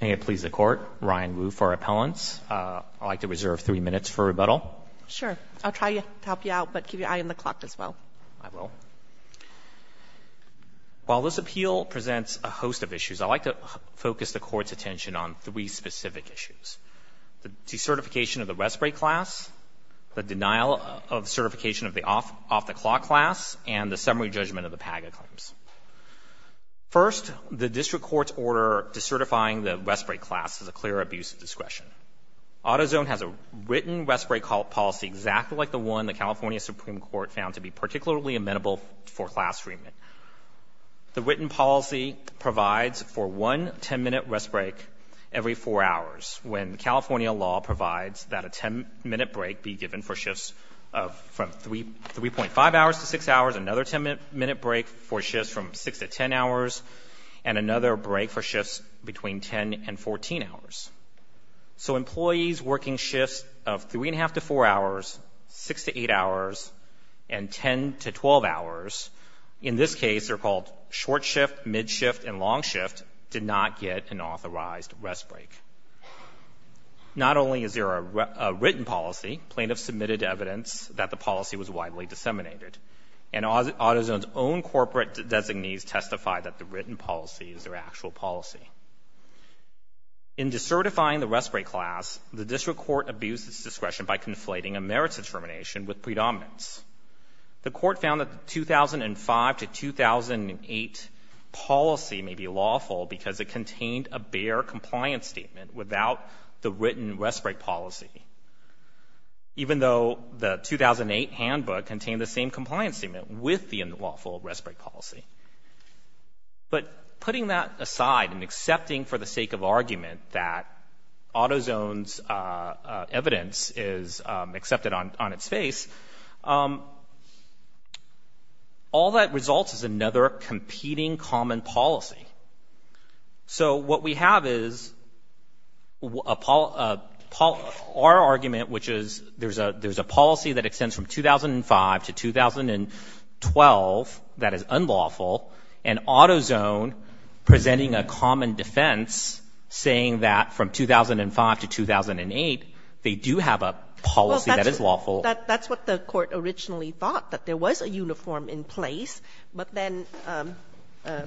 May it please the Court, Ryan Wu for appellants. I'd like to reserve three minutes for rebuttal. Sure. I'll try to help you out, but keep your eye on the clock as well. I will. While this appeal presents a host of issues, I'd like to focus the Court's attention on three specific issues. The decertification of the respite class, the denial of certification of the off-the-clock class, and the summary judgment of the PAGA claims. First, the District Court's order decertifying the respite class is a clear abuse of discretion. Autozone has a written respite policy exactly like the one the California Supreme Court found to be particularly amenable for class treatment. The written policy provides for one 10-minute respite every four hours, when California law provides that a 10-minute break be given for shifts from 3.5 hours to 6 hours, another 10-minute break for shifts from 6 to 10 hours, and another break for shifts between 10 and 14 hours. So employees working shifts of 3.5 to 4 hours, 6 to 8 hours, and 10 to 12 hours, in this case they're called short shift, mid shift, and long shift, did not get an authorized rest break. Not only is there a written policy, plaintiffs submitted evidence that the policy was widely disseminated. And Autozone's own corporate designees testified that the written policy is their actual policy. In decertifying the respite class, the District Court abused its discretion by conflating a merits determination with predominance. The court found that the 2005 to 2008 policy may be lawful because it contained a bare compliance statement without the written respite policy. Even though the 2008 handbook contained the same compliance statement with the unlawful respite policy. But putting that aside and accepting for the sake of argument that Autozone's evidence is accepted on its face, all that results is another competing common policy. So what we have is our argument, which is there's a policy that extends from 2005 to 2012 that is unlawful, and Autozone presenting a common defense saying that from 2005 to 2008 they do have a policy that is lawful. That's what the court originally thought, that there was a uniform in place. But then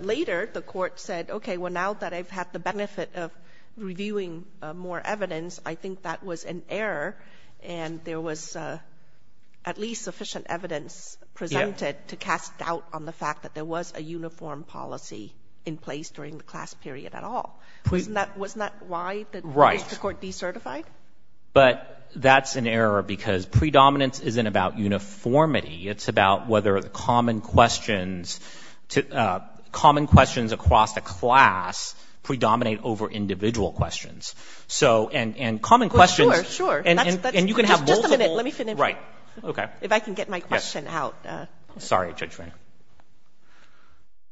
later the court said, okay, well, now that I've had the benefit of reviewing more evidence, I think that was an error and there was at least sufficient evidence presented to cast doubt on the fact that there was a uniform policy in place during the class period at all. Wasn't that why the court decertified? But that's an error because predominance isn't about uniformity. It's about whether the common questions across the class predominate over individual questions. Sure, sure. Just a minute. Let me finish. Okay. If I can get my question out. Sorry, Judge Rainer.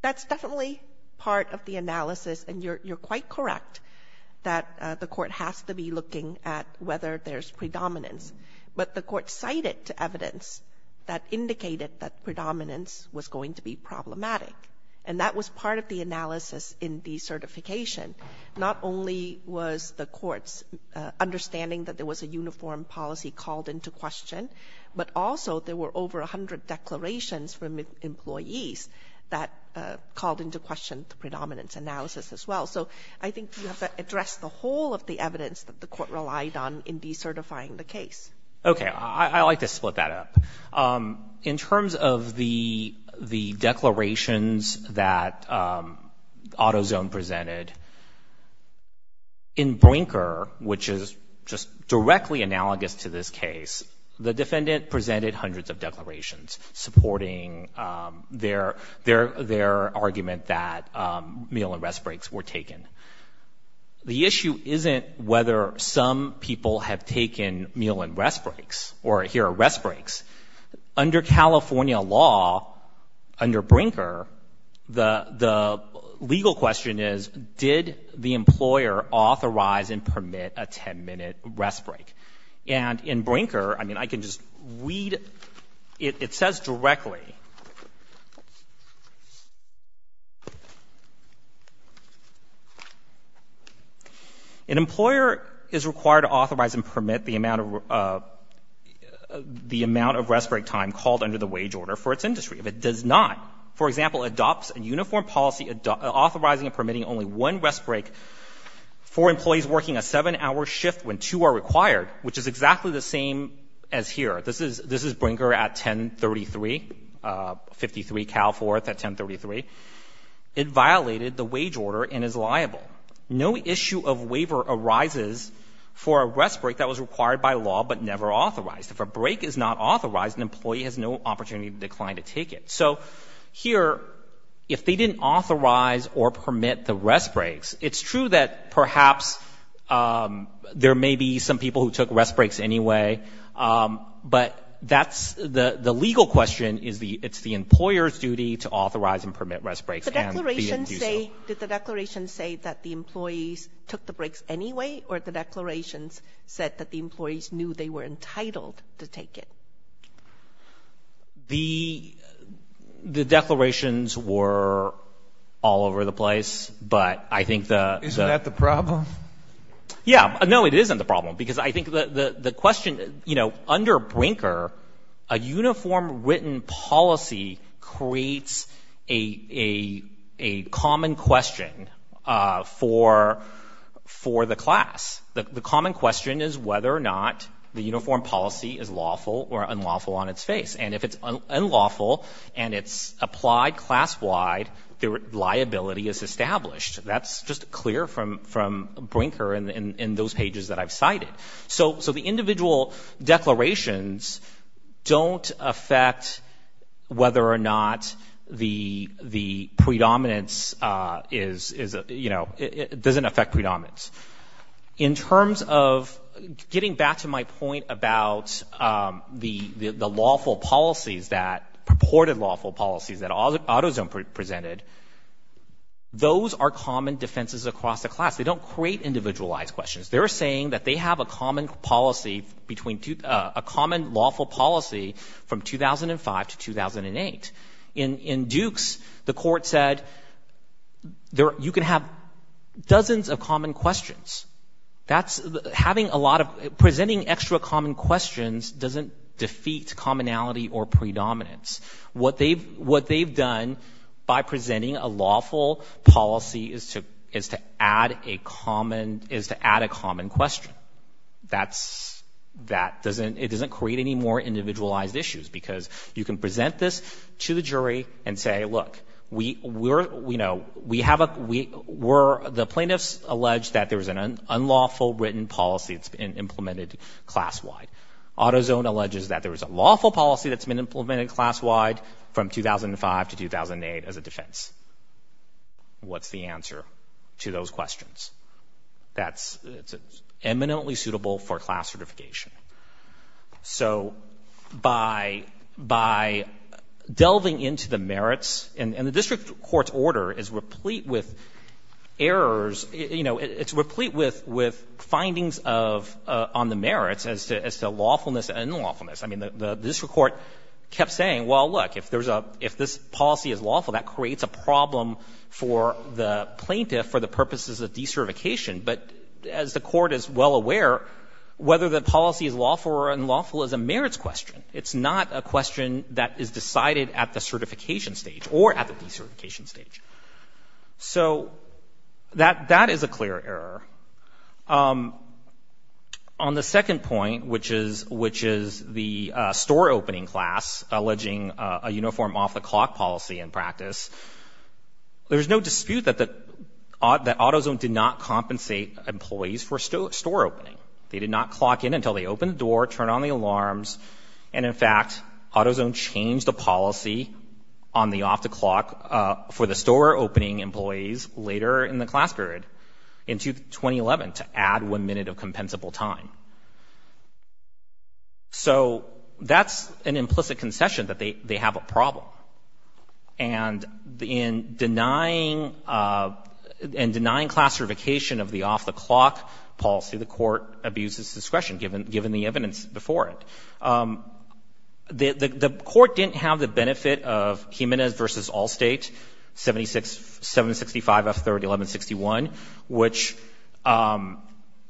That's definitely part of the analysis, and you're quite correct that the court has to be looking at whether there's predominance. But the court cited evidence that indicated that predominance was going to be problematic, and that was part of the analysis in decertification. Not only was the court's understanding that there was a uniform policy called into question, but also there were over 100 declarations from employees that called into question the predominance analysis as well. So I think you have to address the whole of the evidence that the court relied on in decertifying the case. Okay. I like to split that up. In terms of the declarations that AutoZone presented, in Brinker, which is just directly analogous to this case, the defendant presented hundreds of declarations supporting their argument that meal and rest breaks were taken. The issue isn't whether some people have taken meal and rest breaks or hear rest breaks. Under California law, under Brinker, the legal question is, did the employer authorize and permit a 10-minute rest break? And in Brinker, I mean, I can just read, it says directly, an employer is required to authorize and permit the amount of rest break time called under the wage order for its industry. If it does not, for example, adopts a uniform policy authorizing and permitting only one rest break for employees working a seven-hour shift when two are required, which is exactly the same as here. This is Brinker at 1033, 53 Cal Forth at 1033. It violated the wage order and is liable. No issue of waiver arises for a rest break that was required by law but never authorized. If a break is not authorized, an employee has no opportunity to decline to take it. So here, if they didn't authorize or permit the rest breaks, it's true that perhaps there may be some people who took rest breaks anyway, but that's the legal question is it's the employer's duty to authorize and permit rest breaks. Did the declaration say that the employees took the breaks anyway, or the declarations said that the employees knew they were entitled to take it? The declarations were all over the place, but I think the— Isn't that the problem? Yeah. No, it isn't the problem because I think the question, you know, under Brinker a uniform written policy creates a common question for the class. The common question is whether or not the uniform policy is lawful or unlawful on its face. And if it's unlawful and it's applied class-wide, the liability is established. That's just clear from Brinker in those pages that I've cited. So the individual declarations don't affect whether or not the predominance is, you know, it doesn't affect predominance. In terms of getting back to my point about the lawful policies that, purported lawful policies that AutoZone presented, those are common defenses across the class. They don't create individualized questions. They're saying that they have a common policy between, a common lawful policy from 2005 to 2008. In Dukes, the court said you can have dozens of common questions. That's having a lot of—presenting extra common questions doesn't defeat commonality or predominance. What they've done by presenting a lawful policy is to add a common question. That doesn't—it doesn't create any more individualized issues because you can present this to the jury and say, look, we're, you know, we have a—we're— the plaintiffs allege that there is an unlawful written policy that's been implemented class-wide. AutoZone alleges that there is a lawful policy that's been implemented class-wide from 2005 to 2008 as a defense. What's the answer to those questions? That's eminently suitable for class certification. So by—by delving into the merits—and the district court's order is replete with errors. You know, it's replete with—with findings of—on the merits as to lawfulness and unlawfulness. I mean, the district court kept saying, well, look, if there's a—if this policy is lawful, that creates a problem for the plaintiff for the purposes of decertification. But as the court is well aware, whether the policy is lawful or unlawful is a merits question. It's not a question that is decided at the certification stage or at the decertification stage. So that—that is a clear error. On the second point, which is—which is the store opening class alleging a uniform off-the-clock policy in practice, there's no dispute that the—that AutoZone did not compensate employees for store opening. They did not clock in until they opened the door, turned on the alarms, and in fact AutoZone changed the policy on the off-the-clock for the store opening employees later in the class period into 2011 to add one minute of compensable time. So that's an implicit concession that they have a problem. And in denying—in denying class certification of the off-the-clock policy, the court abuses discretion, given the evidence before it. The court didn't have the benefit of Jimenez v. Allstate, 76—765F301161, which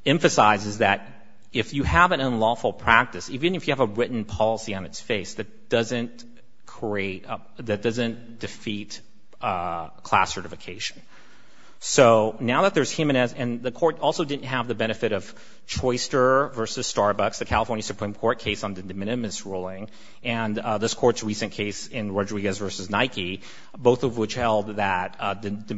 emphasizes that if you have an unlawful practice, even if you have a written policy on its face that doesn't create—that doesn't defeat class certification. So now that there's Jimenez—and the court also didn't have the benefit of Choister v. Starbucks, the California Supreme Court case on the de minimis ruling, and this court's recent case in Rodriguez v. Nike, both of which held that the de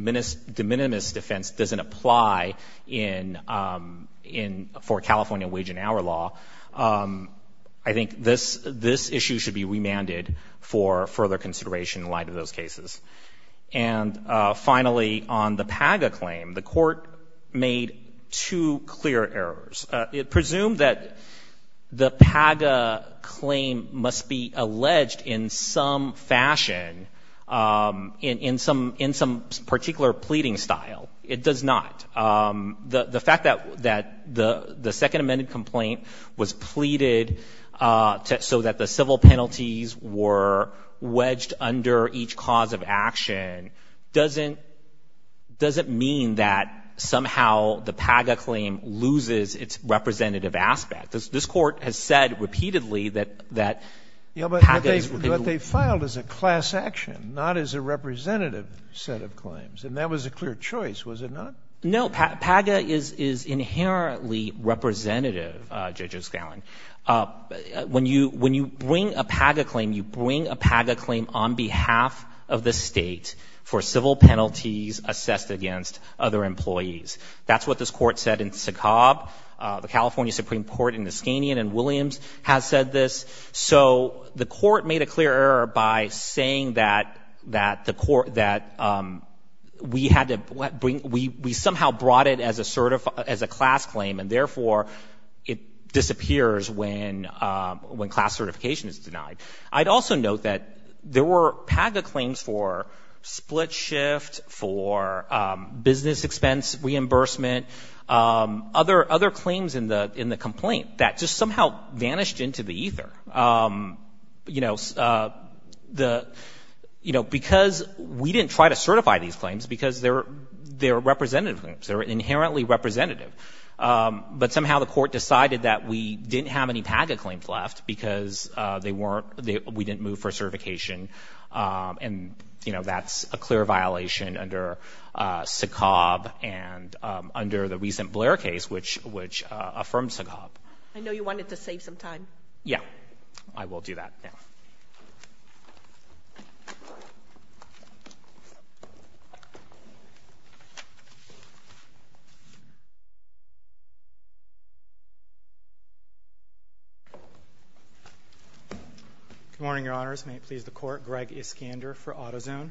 minimis defense doesn't apply in—for California wage and hour law. I think this issue should be remanded for further consideration in light of those cases. And finally, on the PAGA claim, the court made two clear errors. It presumed that the PAGA claim must be alleged in some fashion, in some particular pleading style. It does not. The fact that the second amended complaint was pleaded so that the civil penalties were wedged under each cause of action doesn't mean that somehow the PAGA claim loses its representative aspect. This court has said repeatedly that— But they filed as a class action, not as a representative set of claims. And that was a clear choice, was it not? No, PAGA is inherently representative, Judge O'Scallion. When you bring a PAGA claim, you bring a PAGA claim on behalf of the state for civil penalties assessed against other employees. That's what this court said in Sakob. The California Supreme Court in Iskanian and Williams has said this. So the court made a clear error by saying that we had to bring— when class certification is denied. I'd also note that there were PAGA claims for split shift, for business expense reimbursement, other claims in the complaint that just somehow vanished into the ether. You know, because we didn't try to certify these claims because they're representative claims. They're inherently representative. But somehow the court decided that we didn't have any PAGA claims left because they weren't—we didn't move for certification. And, you know, that's a clear violation under Sakob and under the recent Blair case, which affirmed Sakob. I know you wanted to save some time. Yeah, I will do that now. Good morning, Your Honors. May it please the Court. Greg Iskander for AutoZone.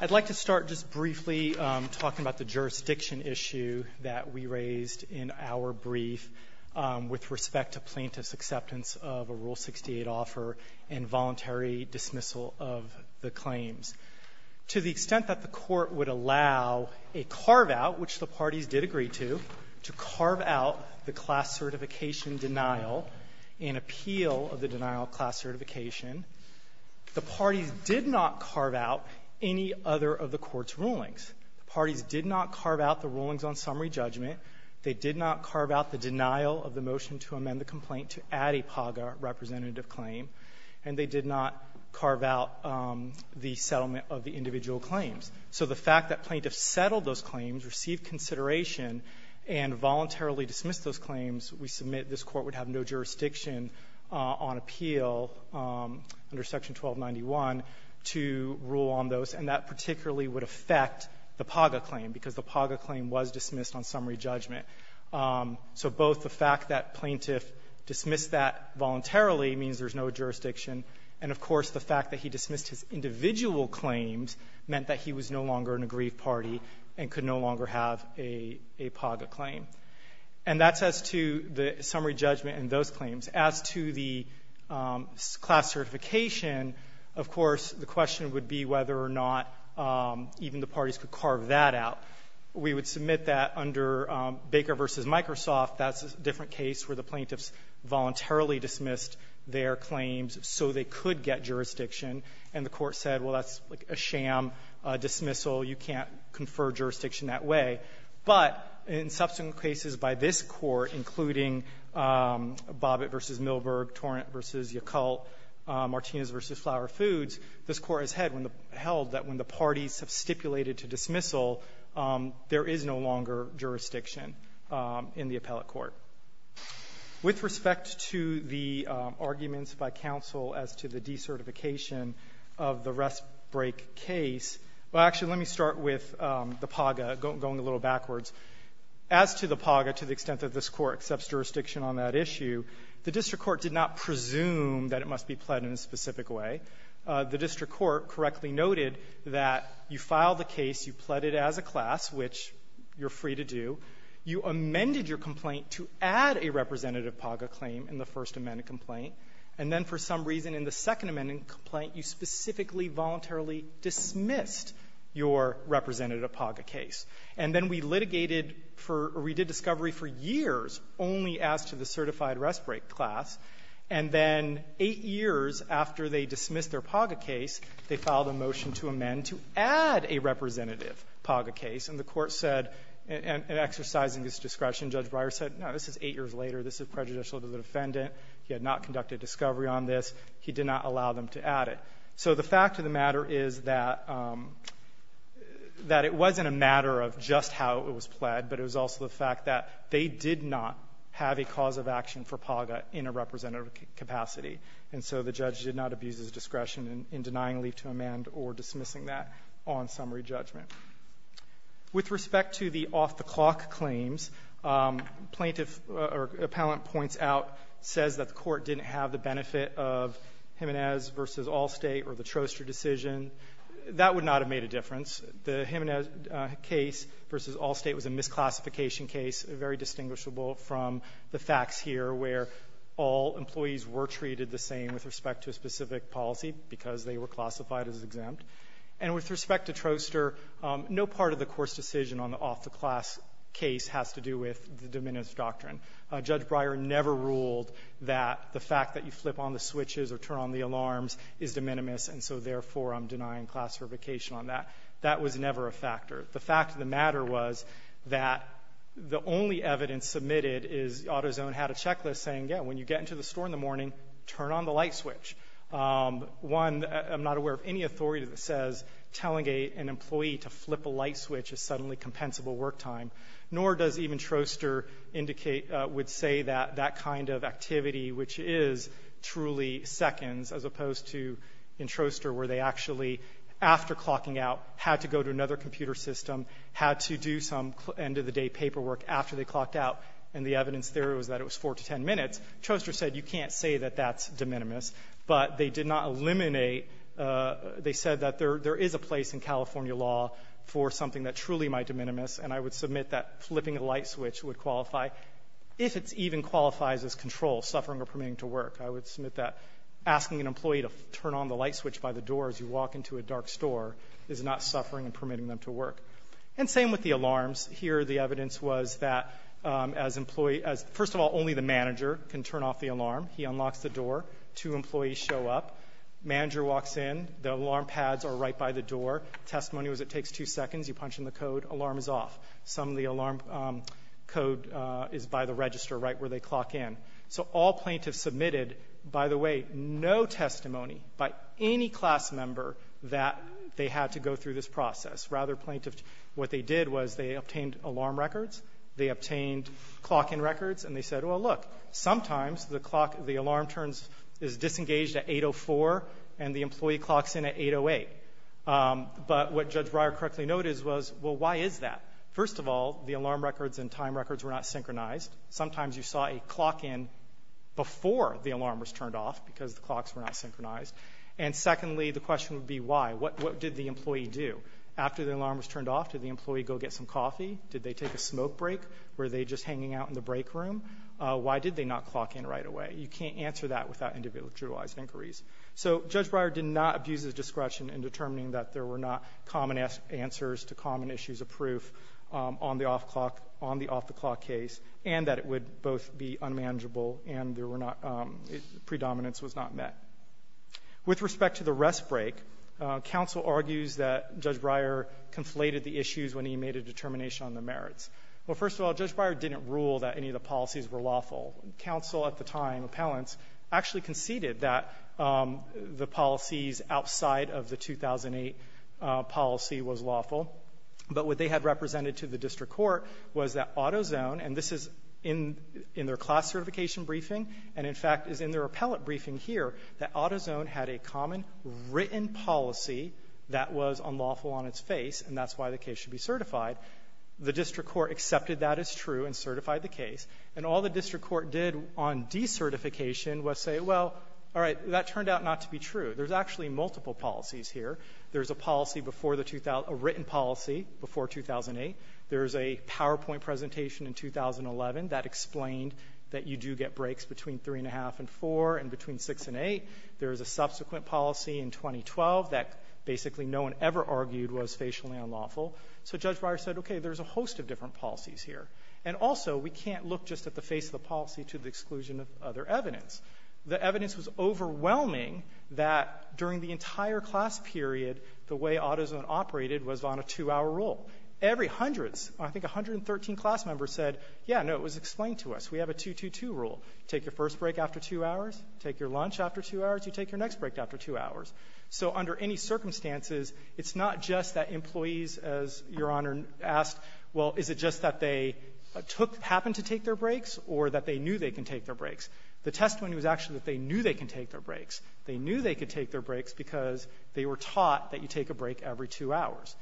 I'd like to start just briefly talking about the jurisdiction issue that we raised in our brief with respect to plaintiff's acceptance of a Rule 68 offer and voluntary dismissal of the claims. To the extent that the Court would allow a carve-out, which the parties did agree to, to carve out the class certification denial and appeal of the denial of class certification, the parties did not carve out any other of the Court's rulings. The parties did not carve out the rulings on summary judgment. They did not carve out the denial of the motion to amend the complaint to add a PAGA representative claim. And they did not carve out the settlement of the individual claims. So the fact that plaintiffs settled those claims, received consideration, and voluntarily dismissed those claims, we submit this Court would have no jurisdiction on appeal under Section 1291 to rule on those, and that particularly would affect the PAGA claim, because the PAGA claim was dismissed on summary judgment. So both the fact that plaintiff dismissed that voluntarily means there's no jurisdiction, and of course the fact that he dismissed his individual claims meant that he was no longer an aggrieved party and could no longer have a PAGA claim. And that's as to the summary judgment and those claims. As to the class certification, of course the question would be whether or not even the parties could carve that out. We would submit that under Baker v. Microsoft. That's a different case where the plaintiffs voluntarily dismissed their claims so they could get jurisdiction, and the Court said, well, that's like a sham dismissal. You can't confer jurisdiction that way. But in subsequent cases by this Court, including Bobbitt v. Milberg, Torrent v. Yacult, Martinez v. Flower Foods, this Court has held that when the parties have stipulated to dismissal, there is no longer jurisdiction in the appellate court. With respect to the arguments by counsel as to the decertification of the rest break case, well, actually let me start with the PAGA, going a little backwards. As to the PAGA, to the extent that this Court accepts jurisdiction on that issue, the district court did not presume that it must be pled in a specific way. The district court correctly noted that you file the case, you pled it as a class, which you're free to do, you amended your complaint to add a representative PAGA claim in the first amended complaint, and then for some reason in the second amended complaint you specifically voluntarily dismissed your representative PAGA case. And then we litigated for, or we did discovery for years only as to the certified rest break class, and then eight years after they dismissed their PAGA case, they filed a motion to amend to add a representative PAGA case, and the Court said, exercising its discretion, Judge Breyer said, no, this is eight years later, this is prejudicial to the defendant, he had not conducted discovery on this, he did not allow them to add it. So the fact of the matter is that it wasn't a matter of just how it was pled, but it was also the fact that they did not have a cause of action for PAGA in a representative capacity. And so the judge did not abuse his discretion in denying a leave to amend or dismissing that on summary judgment. With respect to the off-the-clock claims, plaintiff or appellant points out, says that the Court didn't have the benefit of Jimenez v. Allstate or the Troster decision. That would not have made a difference. The Jimenez case v. Allstate was a misclassification case, very distinguishable from the facts here where all employees were treated the same with respect to a specific policy because they were classified as exempt. And with respect to Troster, no part of the Court's decision on the off-the-class case has to do with the de minimis doctrine. Judge Breyer never ruled that the fact that you flip on the switches or turn on the alarms is de minimis, and so therefore I'm denying classification on that. That was never a factor. The fact of the matter was that the only evidence submitted is AutoZone had a checklist saying, yeah, when you get into the store in the morning, turn on the light switch. One, I'm not aware of any authority that says telling an employee to flip a light switch is suddenly compensable work time, nor does even Troster would say that that kind of activity, which is truly seconds, as opposed to in Troster where they actually, after clocking out, had to go to another computer system, had to do some end-of-the-day paperwork after they clocked out, and the evidence there was that it was four to ten minutes. Troster said you can't say that that's de minimis, but they did not eliminate, they said that there is a place in California law for something that truly might de minimis, and I would submit that flipping a light switch would qualify, if it even qualifies as control, suffering or permitting to work. I would submit that asking an employee to turn on the light switch by the door as you walk into a dark store is not suffering and permitting them to work. And same with the alarms. Here the evidence was that, first of all, only the manager can turn off the alarm. He unlocks the door. Two employees show up. Manager walks in. The alarm pads are right by the door. Testimony was it takes two seconds. You punch in the code. Alarm is off. Some of the alarm code is by the register right where they clock in. So all plaintiffs submitted, by the way, no testimony by any class member that they had to go through this process. Rather, what they did was they obtained alarm records. They obtained clock-in records, and they said, well, look, sometimes the alarm is disengaged at 8.04 and the employee clocks in at 8.08. But what Judge Breyer correctly noted was, well, why is that? First of all, the alarm records and time records were not synchronized. Sometimes you saw a clock in before the alarm was turned off because the clocks were not synchronized. And secondly, the question would be why. What did the employee do? After the alarm was turned off, did the employee go get some coffee? Did they take a smoke break? Were they just hanging out in the break room? Why did they not clock in right away? You can't answer that without individualized inquiries. So Judge Breyer did not abuse his discretion in determining that there were not common answers to common issues of proof on the off-the-clock case, and that it would both be unmanageable and the predominance was not met. With respect to the rest break, counsel argues that Judge Breyer conflated the issues when he made a determination on the merits. Well, first of all, Judge Breyer didn't rule that any of the policies were lawful. Counsel at the time, appellants, actually conceded that the policies outside of the 2008 policy was lawful. But what they had represented to the district court was that AutoZone, and this is in their class certification briefing and, in fact, is in their appellate briefing here, that AutoZone had a common written policy that was unlawful on its face, and that's why the case should be certified. The district court accepted that as true and certified the case. And all the district court did on decertification was say, well, all right, that turned out not to be true. There's actually multiple policies here. There's a written policy before 2008. There's a PowerPoint presentation in 2011 that explained that you do get breaks between 3 1⁄2 and 4 and between 6 and 8. There's a subsequent policy in 2012 that basically no one ever argued was facially unlawful. So Judge Breyer said, okay, there's a host of different policies here. And also we can't look just at the face of the policy to the exclusion of other evidence. The evidence was overwhelming that during the entire class period the way AutoZone operated was on a 2-hour rule. Every hundredth, I think 113 class members said, yeah, no, it was explained to us. We have a 2-2-2 rule. Take your first break after 2 hours, take your lunch after 2 hours, you take your next break after 2 hours. So under any circumstances, it's not just that employees, as Your Honor asked, well, is it just that they happened to take their breaks or that they knew they can take their breaks? The testimony was actually that they knew they can take their breaks. They knew they could take their breaks because they were taught that you take a break every 2 hours.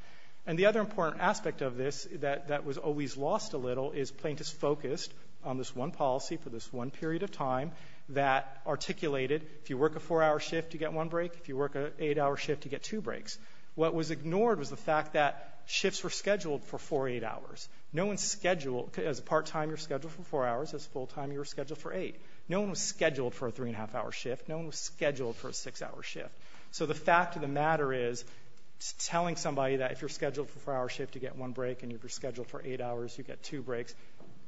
And the other important aspect of this that was always lost a little is plaintiffs focused on this one policy for this one period of time that articulated if you work a 4-hour shift, you get one break. If you work an 8-hour shift, you get two breaks. What was ignored was the fact that shifts were scheduled for 4 or 8 hours. No one scheduled, as a part-time you're scheduled for 4 hours, as a full-time you're scheduled for 8. No one was scheduled for a 3-1⁄2-hour shift. No one was scheduled for a 6-hour shift. So the fact of the matter is telling somebody that if you're scheduled for a 4-hour shift, you get one break, and if you're scheduled for 8 hours, you get two breaks,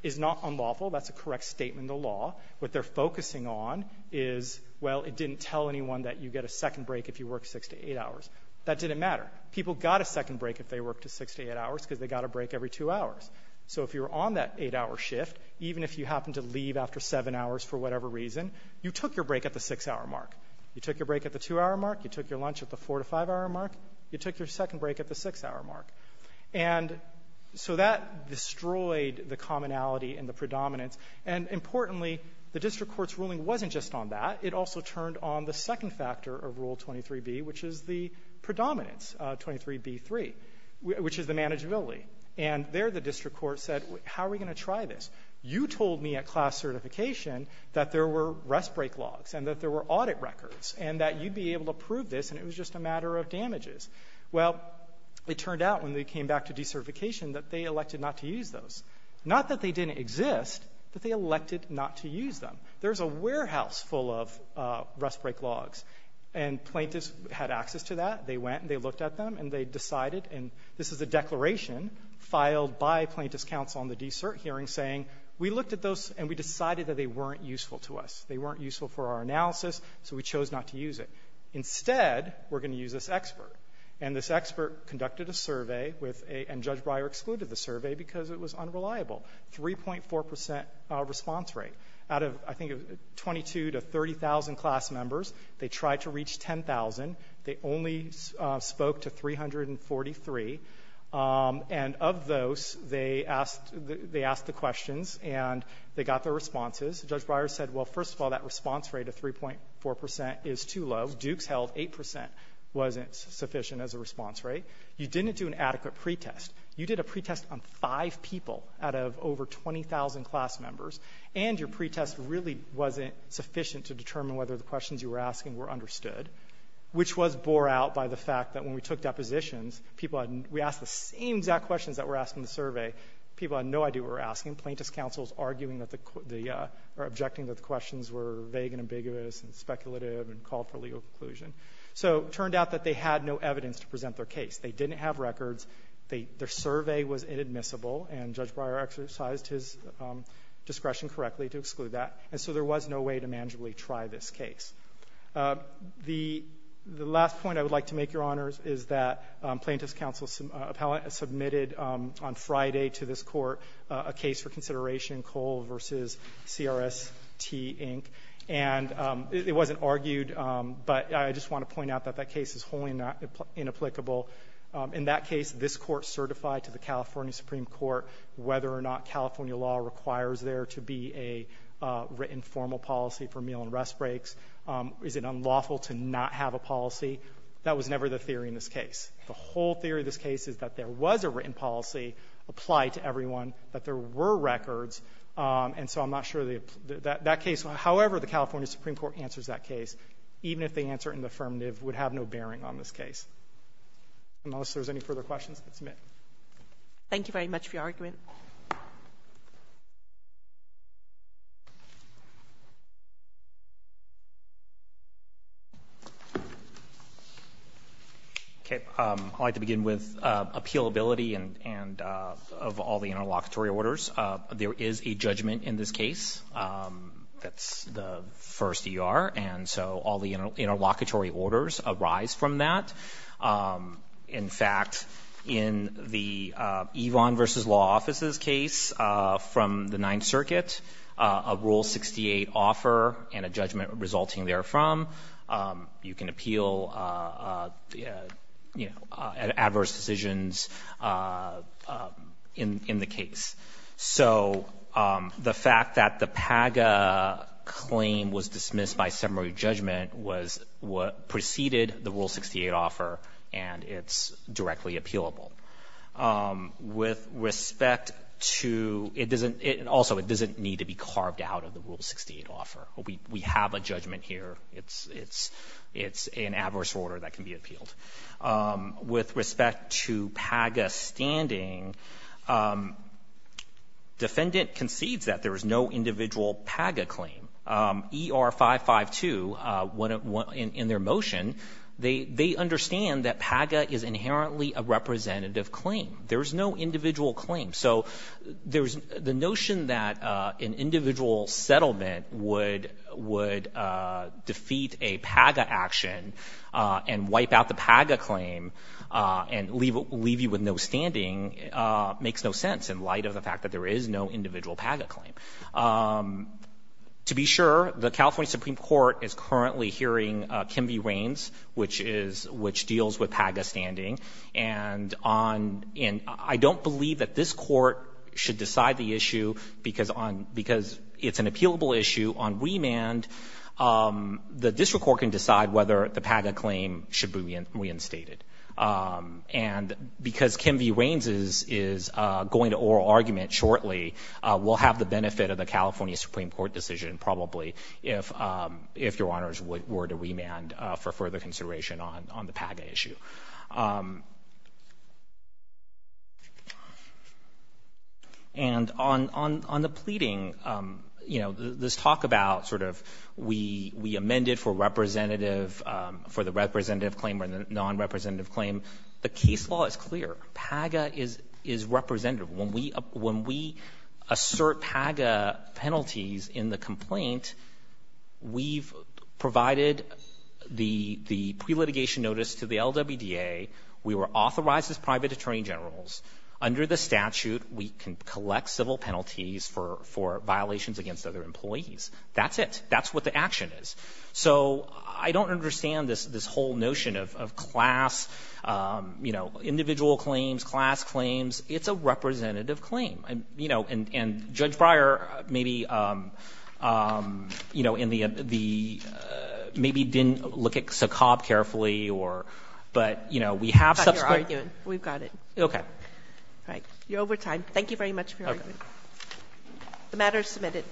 is not unlawful. That's a correct statement of the law. What they're focusing on is, well, it didn't tell anyone that you get a second break if you work 6 to 8 hours. That didn't matter. People got a second break if they worked a 6 to 8 hours because they got a break every 2 hours. So if you're on that 8-hour shift, even if you happen to leave after 7 hours for whatever reason, you took your break at the 6-hour mark. You took your break at the 2-hour mark. You took your lunch at the 4- to 5-hour mark. You took your second break at the 6-hour mark. And so that destroyed the commonality and the predominance. And importantly, the district court's ruling wasn't just on that. It also turned on the second factor of Rule 23b, which is the predominance, 23b-3, which is the manageability. And there the district court said, how are we going to try this? You told me at class certification that there were rest break logs and that there were audit records and that you'd be able to prove this and it was just a matter of damages. Well, it turned out when they came back to decertification that they elected not to use those. Not that they didn't exist, but they elected not to use them. There's a warehouse full of rest break logs, and plaintiffs had access to that. They went and they looked at them and they decided, and this is a declaration filed by plaintiffs' counsel on the de-cert hearing saying, we looked at those and we decided that they weren't useful to us. They weren't useful for our analysis, so we chose not to use it. Instead, we're going to use this expert. And this expert conducted a survey and Judge Breyer excluded the survey because it was unreliable. 3.4% response rate. Out of, I think, 22,000 to 30,000 class members, they tried to reach 10,000. They only spoke to 343. And of those, they asked the questions and they got their responses. Judge Breyer said, well, first of all, that response rate of 3.4% is too low. Duke's held 8% wasn't sufficient as a response rate. You didn't do an adequate pretest. You did a pretest on five people out of over 20,000 class members, and your pretest really wasn't sufficient to determine whether the questions you were asking were understood, which was bore out by the fact that when we took depositions, we asked the same exact questions that were asked in the survey. People had no idea what we were asking. Plaintiff's counsel was arguing or objecting that the questions were vague and ambiguous and speculative and called for legal conclusion. So it turned out that they had no evidence to present their case. They didn't have records. Their survey was inadmissible, and Judge Breyer exercised his discretion correctly to exclude that. And so there was no way to manageably try this case. The last point I would like to make, Your Honors, is that Plaintiff's counsel submitted on Friday to this court a case for consideration, Cole v. CRST, Inc., and it wasn't argued, but I just want to point out that that case is wholly inapplicable. In that case, this court certified to the California Supreme Court whether or not California law requires there to be an informal policy for meal and rest breaks. Is it unlawful to not have a policy? That was never the theory in this case. The whole theory of this case is that there was a written policy applied to everyone, that there were records, and so I'm not sure that that case, however the California Supreme Court answers that case, even if they answer it in the affirmative, would have no bearing on this case. Unless there's any further questions, I'll submit. Thank you very much for your argument. I'd like to begin with appealability of all the interlocutory orders. There is a judgment in this case. That's the first ER, and so all the interlocutory orders arise from that. In fact, in the Yvonne v. Law Offices case from the Ninth Circuit, a Rule 68 offer and a judgment resulting therefrom, you can appeal adverse decisions in the case. So the fact that the PAGA claim was dismissed by summary judgment preceded the Rule 68 offer and it's directly appealable. Also, it doesn't need to be carved out of the Rule 68 offer. We have a judgment here. It's an adverse order that can be appealed. With respect to PAGA standing, defendant concedes that there is no individual PAGA claim. ER 552, in their motion, they understand that PAGA is inherently a representative claim. There is no individual claim. So the notion that an individual settlement would defeat a PAGA action and wipe out the PAGA claim and leave you with no standing makes no sense in light of the fact that there is no individual PAGA claim. To be sure, the California Supreme Court is currently hearing Kim v. Rains, which deals with PAGA standing. And I don't believe that this court should decide the issue because it's an appealable issue. On remand, the district court can decide whether the PAGA claim should be reinstated. And because Kim v. Rains is going to oral argument shortly, we'll have the benefit of the California Supreme Court decision probably if Your Honors were to remand for further consideration on the PAGA issue. And on the pleading, you know, this talk about sort of we amended for representative, for the representative claim or the non-representative claim, the case law is clear. PAGA is representative. When we assert PAGA penalties in the complaint, we've provided the pre-litigation notice to the LWDA. We were authorized as private attorney generals. Under the statute, we can collect civil penalties for violations against other employees. That's it. That's what the action is. So I don't understand this whole notion of class, you know, individual claims, class claims. It's a representative claim. You know, and Judge Breyer maybe, you know, in the – maybe didn't look at SACOB carefully or – but, you know, we have – We've got your argument. We've got it. Okay. All right. You're over time. Thank you very much for your argument. The matter is submitted.